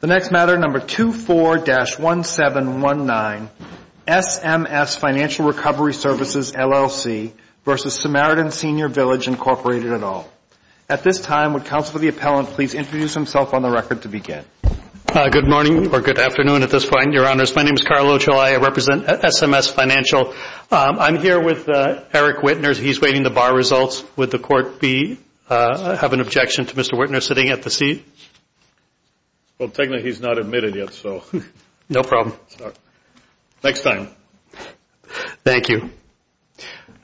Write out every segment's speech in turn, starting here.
The next matter, number 24-1719, SMS Financial Recovery Services, LLC v. Samaritan Senior Village, Incorporated et al. At this time, would Counsel for the Appellant please introduce himself on the record to begin? Good morning, or good afternoon at this point, Your Honors. My name is Carlo Uccellai. I represent SMS Financial. I'm here with Eric Wittner. He's weighting the bar results. Would the Court have an objection to Mr. Wittner sitting at the seat? Well, technically he's not admitted yet, so. No problem. Next time. Thank you.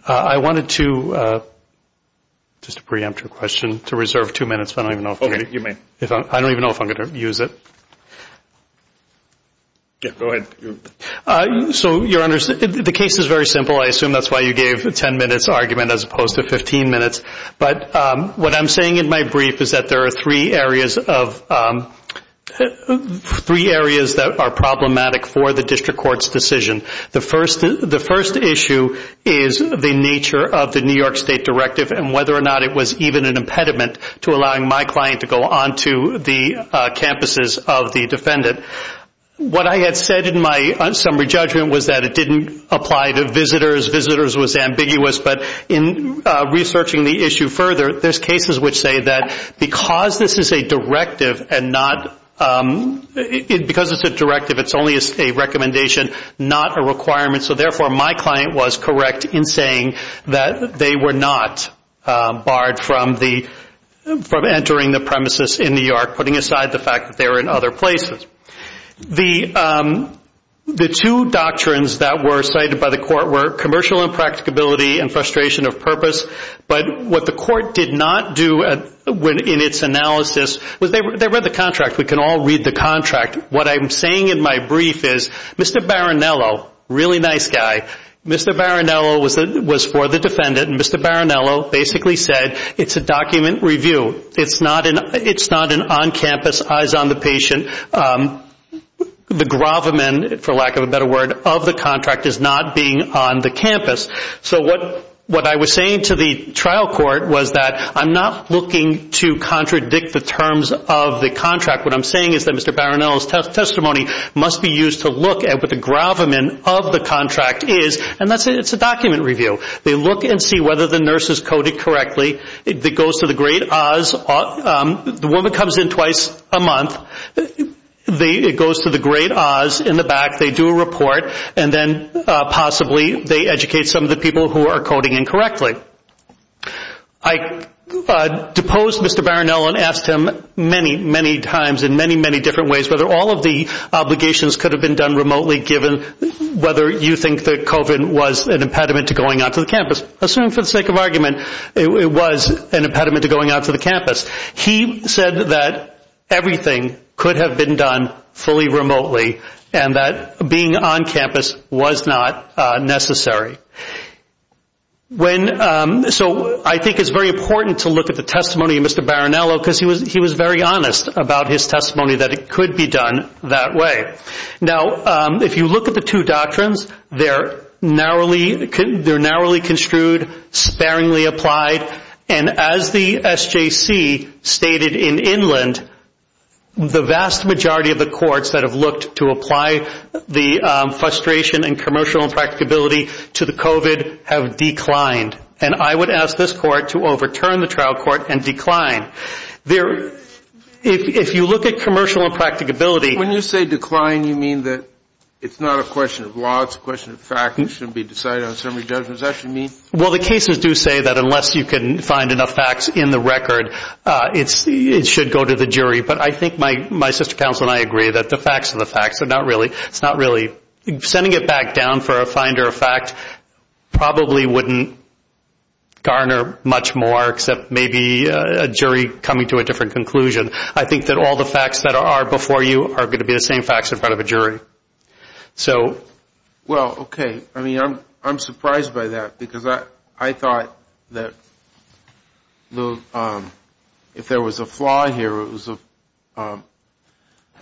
I wanted to, just to preempt your question, to reserve two minutes. Okay, you may. I don't even know if I'm going to use it. Go ahead. So, Your Honors, the case is very simple. I assume that's why you gave a 10-minute argument as opposed to 15 minutes. But what I'm saying in my brief is that there are three areas that are problematic for the District Court's decision. The first issue is the nature of the New York State Directive and whether or not it was even an impediment to allowing my client to go on to the campuses of the defendant. What I had said in my summary judgment was that it didn't apply to visitors. Visitors was ambiguous, but in researching the issue further, there's cases which say that because this is a directive and not, because it's a directive, it's only a recommendation, not a requirement. So, therefore, my client was correct in saying that they were not barred from entering the premises in New York, putting aside the fact that they were in other places. The two doctrines that were cited by the court were commercial impracticability and frustration of purpose. But what the court did not do in its analysis was they read the contract. We can all read the contract. What I'm saying in my brief is Mr. Barinello, really nice guy, Mr. Barinello was for the defendant, and Mr. Barinello basically said it's a document review. It's not an on-campus eyes on the patient. The gravamen, for lack of a better word, of the contract is not being on the campus. So what I was saying to the trial court was that I'm not looking to contradict the terms of the contract. What I'm saying is that Mr. Barinello's testimony must be used to look at what the gravamen of the contract is, and it's a document review. They look and see whether the nurse is coded correctly. It goes to the great Oz. The woman comes in twice a month. It goes to the great Oz in the back. They do a report, and then possibly they educate some of the people who are coding incorrectly. I deposed Mr. Barinello and asked him many, many times in many, many different ways whether all of the obligations could have been done remotely given whether you think that COVID was an impediment to going out to the campus. Assuming for the sake of argument, it was an impediment to going out to the campus. He said that everything could have been done fully remotely and that being on campus was not necessary. So I think it's very important to look at the testimony of Mr. Barinello because he was very honest about his testimony that it could be done that way. Now, if you look at the two doctrines, they're narrowly construed, sparingly applied, and as the SJC stated in Inland, the vast majority of the courts that have looked to apply the frustration and commercial impracticability to the COVID have declined, and I would ask this court to overturn the trial court and decline. If you look at commercial impracticability When you say decline, you mean that it's not a question of law. It's a question of fact. It shouldn't be decided on a summary judgment. Is that what you mean? Well, the cases do say that unless you can find enough facts in the record, it should go to the jury, but I think my sister counsel and I agree that the facts are the facts. It's not really – sending it back down for a finder of fact probably wouldn't garner much more except maybe a jury coming to a different conclusion. I think that all the facts that are before you are going to be the same facts in front of a jury. Well, okay. I mean, I'm surprised by that because I thought that if there was a flaw here, it was a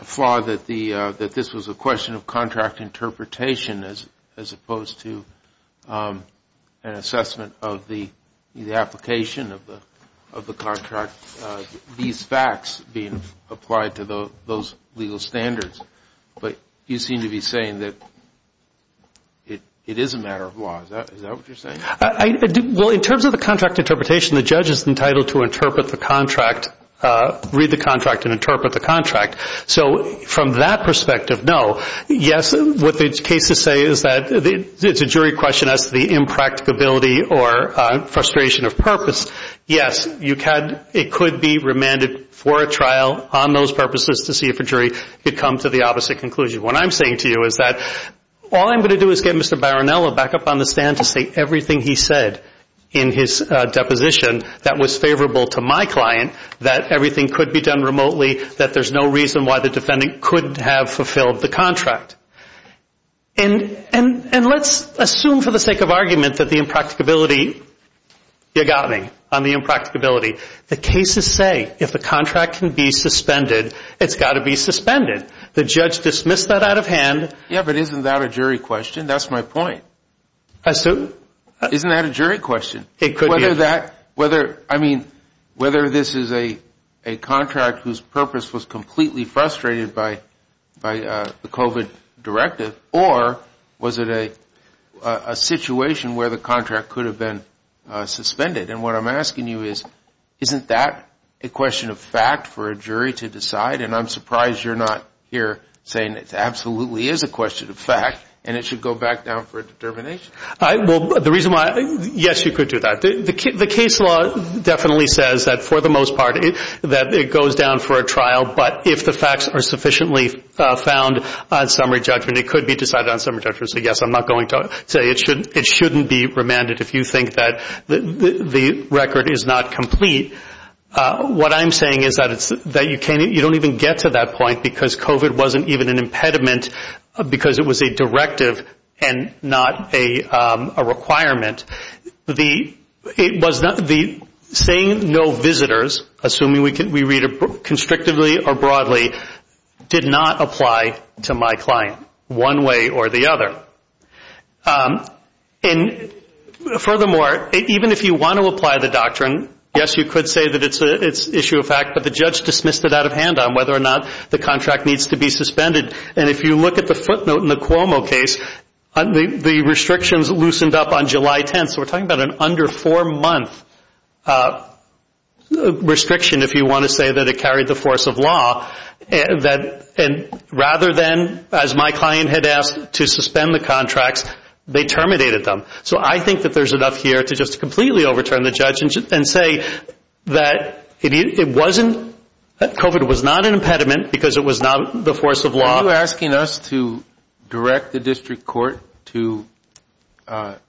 flaw that this was a question of contract interpretation as opposed to an assessment of the application of the contract, these facts being applied to those legal standards. But you seem to be saying that it is a matter of law. Is that what you're saying? Well, in terms of the contract interpretation, the judge is entitled to interpret the contract, read the contract, and interpret the contract. So from that perspective, no. Yes, what the cases say is that it's a jury question as to the impracticability or frustration of purpose. Yes, it could be remanded for a trial on those purposes to see if a jury could come to the opposite conclusion. What I'm saying to you is that all I'm going to do is get Mr. Barinello back up on the stand to say everything he said in his deposition that was favorable to my client, that everything could be done remotely, that there's no reason why the defendant couldn't have fulfilled the contract. And let's assume for the sake of argument that the impracticability, you got me on the impracticability. The cases say if the contract can be suspended, it's got to be suspended. The judge dismissed that out of hand. Yes, but isn't that a jury question? That's my point. I assume. Isn't that a jury question? It could be. I mean, whether this is a contract whose purpose was completely frustrated by the COVID directive or was it a situation where the contract could have been suspended? And what I'm asking you is, isn't that a question of fact for a jury to decide? And I'm surprised you're not here saying it absolutely is a question of fact and it should go back down for a determination. Yes, you could do that. The case law definitely says that for the most part that it goes down for a trial, but if the facts are sufficiently found on summary judgment, it could be decided on summary judgment. So, yes, I'm not going to say it shouldn't be remanded if you think that the record is not complete. What I'm saying is that you don't even get to that point because COVID wasn't even an impediment because it was a directive and not a requirement. The saying no visitors, assuming we read it constrictively or broadly, did not apply to my client one way or the other. And furthermore, even if you want to apply the doctrine, yes, you could say that it's issue of fact, but the judge dismissed it out of hand on whether or not the contract needs to be suspended. And if you look at the footnote in the Cuomo case, the restrictions loosened up on July 10th. So we're talking about an under four-month restriction if you want to say that it carried the force of law. And rather than, as my client had asked, to suspend the contracts, they terminated them. So I think that there's enough here to just completely overturn the judge and say that it wasn't – that COVID was not an impediment because it was not the force of law. Are you asking us to direct the district court to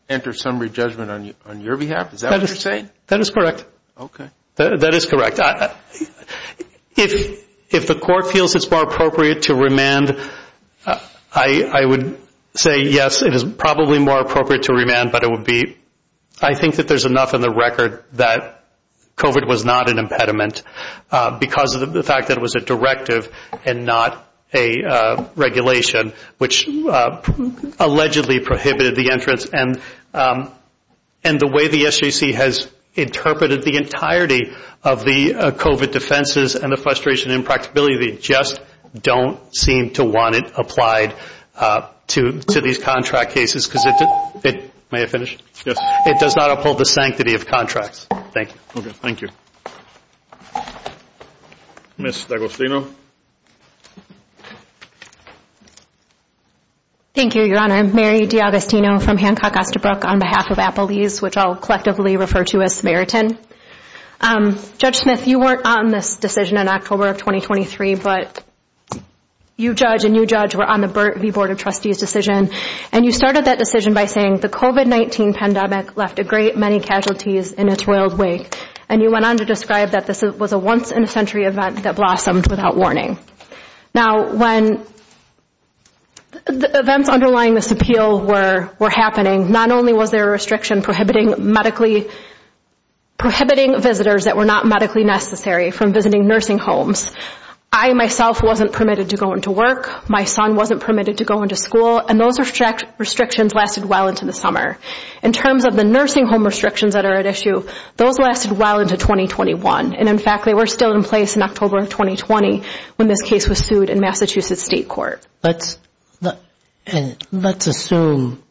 enter summary judgment on your behalf? Is that what you're saying? That is correct. Okay. That is correct. If the court feels it's more appropriate to remand, I would say yes, it is probably more appropriate to remand, but it would be – I think that there's enough in the record that COVID was not an impediment because of the fact that it was a directive and not a regulation, which allegedly prohibited the entrance. And the way the SJC has interpreted the entirety of the COVID defenses and the frustration and impracticability, they just don't seem to want it applied to these contract cases because it – may I finish? Yes. It does not uphold the sanctity of contracts. Thank you. Okay. Thank you. Ms. D'Agostino. Thank you, Your Honor. I'm Mary D'Agostino from Hancock Osterbrook on behalf of Applebee's, which I'll collectively refer to as Samaritan. Judge Smith, you weren't on this decision in October of 2023, but you judge and you judge were on the Burt v. Board of Trustees decision, and you started that decision by saying the COVID-19 pandemic left a great many casualties in its royal wake, and you went on to describe that this was a once-in-a-century event that blossomed without warning. Now, when the events underlying this appeal were happening, not only was there a restriction prohibiting medically – prohibiting visitors that were not medically necessary from visiting nursing homes. I, myself, wasn't permitted to go into work. My son wasn't permitted to go into school. And those restrictions lasted well into the summer. In terms of the nursing home restrictions that are at issue, those lasted well into 2021. And, in fact, they were still in place in October of 2020 when this case was sued in Massachusetts State Court. Let's assume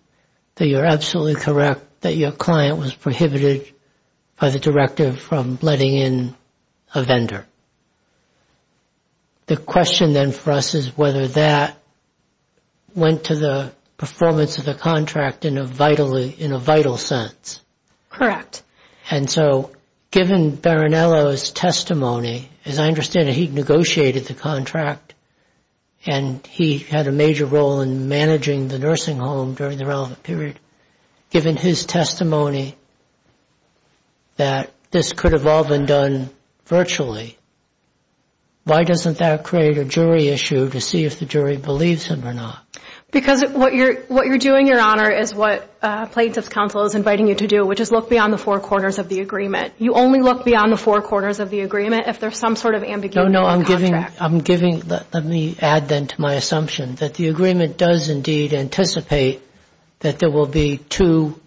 that you're absolutely correct that your client was prohibited by the directive from letting in a vendor. The question, then, for us is whether that went to the performance of the contract in a vital sense. And so, given Barinello's testimony, as I understand it, he negotiated the contract, and he had a major role in managing the nursing home during the relevant period. Given his testimony that this could have all been done virtually, why doesn't that create a jury issue to see if the jury believes him or not? Because what you're doing, Your Honor, is what Plaintiff's Counsel is inviting you to do, which is look beyond the four corners of the agreement. You only look beyond the four corners of the agreement if there's some sort of ambiguity in the contract. No, no, I'm giving – let me add, then, to my assumption that the agreement does indeed anticipate that there will be two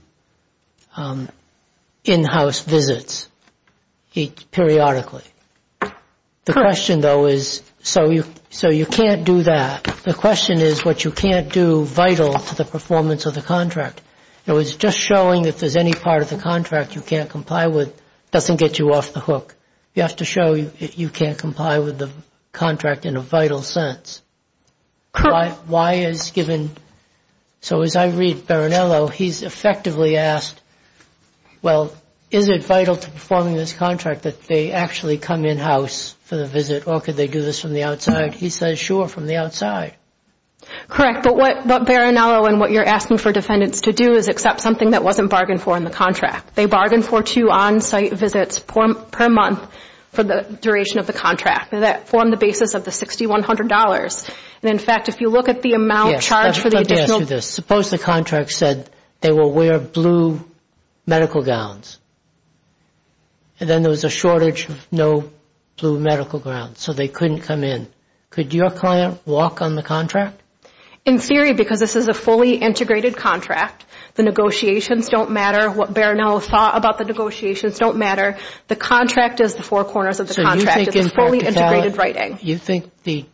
in-house visits periodically. The question, though, is – so you can't do that. The question is what you can't do vital to the performance of the contract. In other words, just showing that there's any part of the contract you can't comply with doesn't get you off the hook. You have to show you can't comply with the contract in a vital sense. Correct. Why is given – so as I read Barinello, he's effectively asked, well, is it vital to performing this contract that they actually come in-house for the visit or could they do this from the outside? He says, sure, from the outside. Correct, but what Barinello and what you're asking for defendants to do is accept something that wasn't bargained for in the contract. They bargained for two on-site visits per month for the duration of the contract. That formed the basis of the $6,100. In fact, if you look at the amount charged for the additional – Let me ask you this. Suppose the contract said they will wear blue medical gowns and then there was a shortage of no blue medical gowns, so they couldn't come in. Could your client walk on the contract? In theory, because this is a fully integrated contract, the negotiations don't matter. What Barinello thought about the negotiations don't matter. The contract is the four corners of the contract. It's a fully integrated writing. You think the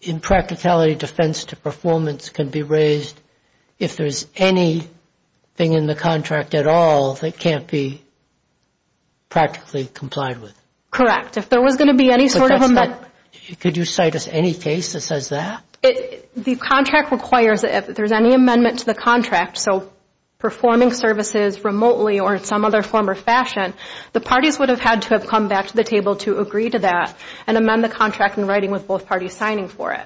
impracticality defense to performance can be raised if there's anything in the contract at all that can't be practically complied with? Correct. If there was going to be any sort of – Could you cite us any case that says that? The contract requires that if there's any amendment to the contract, so performing services remotely or in some other form or fashion, the parties would have had to have come back to the table to agree to that and amend the contract in writing with both parties signing for it.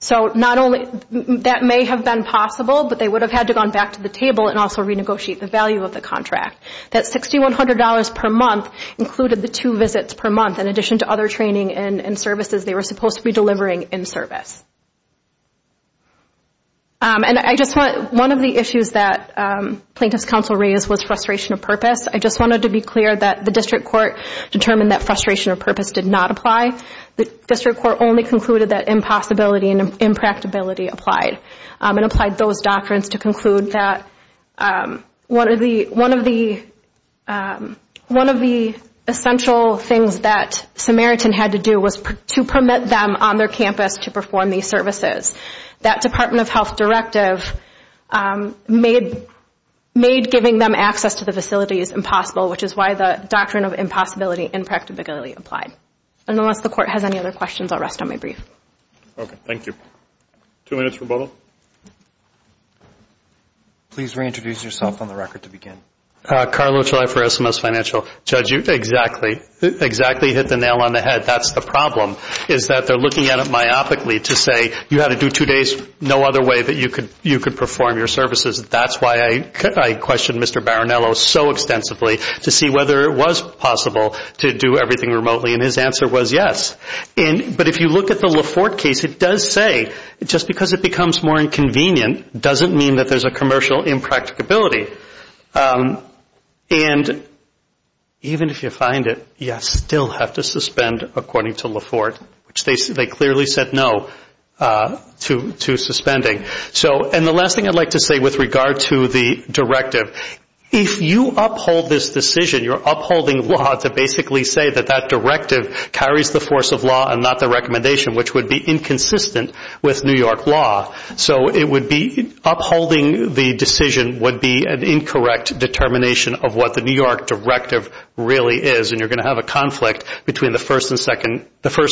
That may have been possible, but they would have had to have gone back to the table and also renegotiate the value of the contract. That $6,100 per month included the two visits per month. In addition to other training and services they were supposed to be delivering in service. One of the issues that plaintiffs' counsel raised was frustration of purpose. I just wanted to be clear that the district court determined that frustration of purpose did not apply. The district court only concluded that impossibility and impracticality applied and applied those doctrines to conclude that one of the essential things that Samaritan had to do was to permit them on their campus to perform these services. That Department of Health directive made giving them access to the facilities impossible, which is why the doctrine of impossibility and impracticality applied. Unless the court has any other questions, I'll rest on my brief. Okay, thank you. Two minutes for Bobo. Please reintroduce yourself on the record to begin. Carlo Troy for SMS Financial. Judge, you exactly hit the nail on the head. That's the problem is that they're looking at it myopically to say you had to do two days, no other way that you could perform your services. That's why I questioned Mr. Barinello so extensively to see whether it was possible to do everything remotely, and his answer was yes. But if you look at the Laforte case, it does say just because it becomes more inconvenient doesn't mean that there's a commercial impracticability. And even if you find it, you still have to suspend according to Laforte, which they clearly said no to suspending. And the last thing I'd like to say with regard to the directive, if you uphold this decision, you're upholding law to basically say that that directive carries the force of law and not the recommendation, which would be inconsistent with New York law. So upholding the decision would be an incorrect determination of what the New York directive really is, and you're going to have a conflict between the First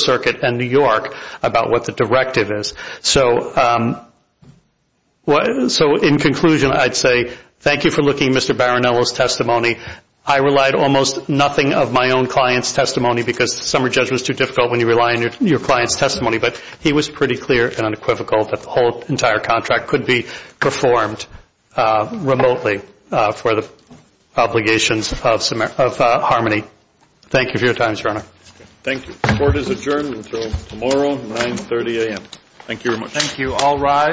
Circuit and New York about what the directive is. So in conclusion, I'd say thank you for looking at Mr. Barinello's testimony. I relied almost nothing of my own client's testimony because the summary judgment is too difficult when you rely on your client's testimony, but he was pretty clear and unequivocal that the whole entire contract could be performed remotely for the obligations of Harmony. Thank you for your time, Your Honor. Thank you. Court is adjourned until tomorrow, 9.30 a.m. Thank you very much. Thank you. All rise.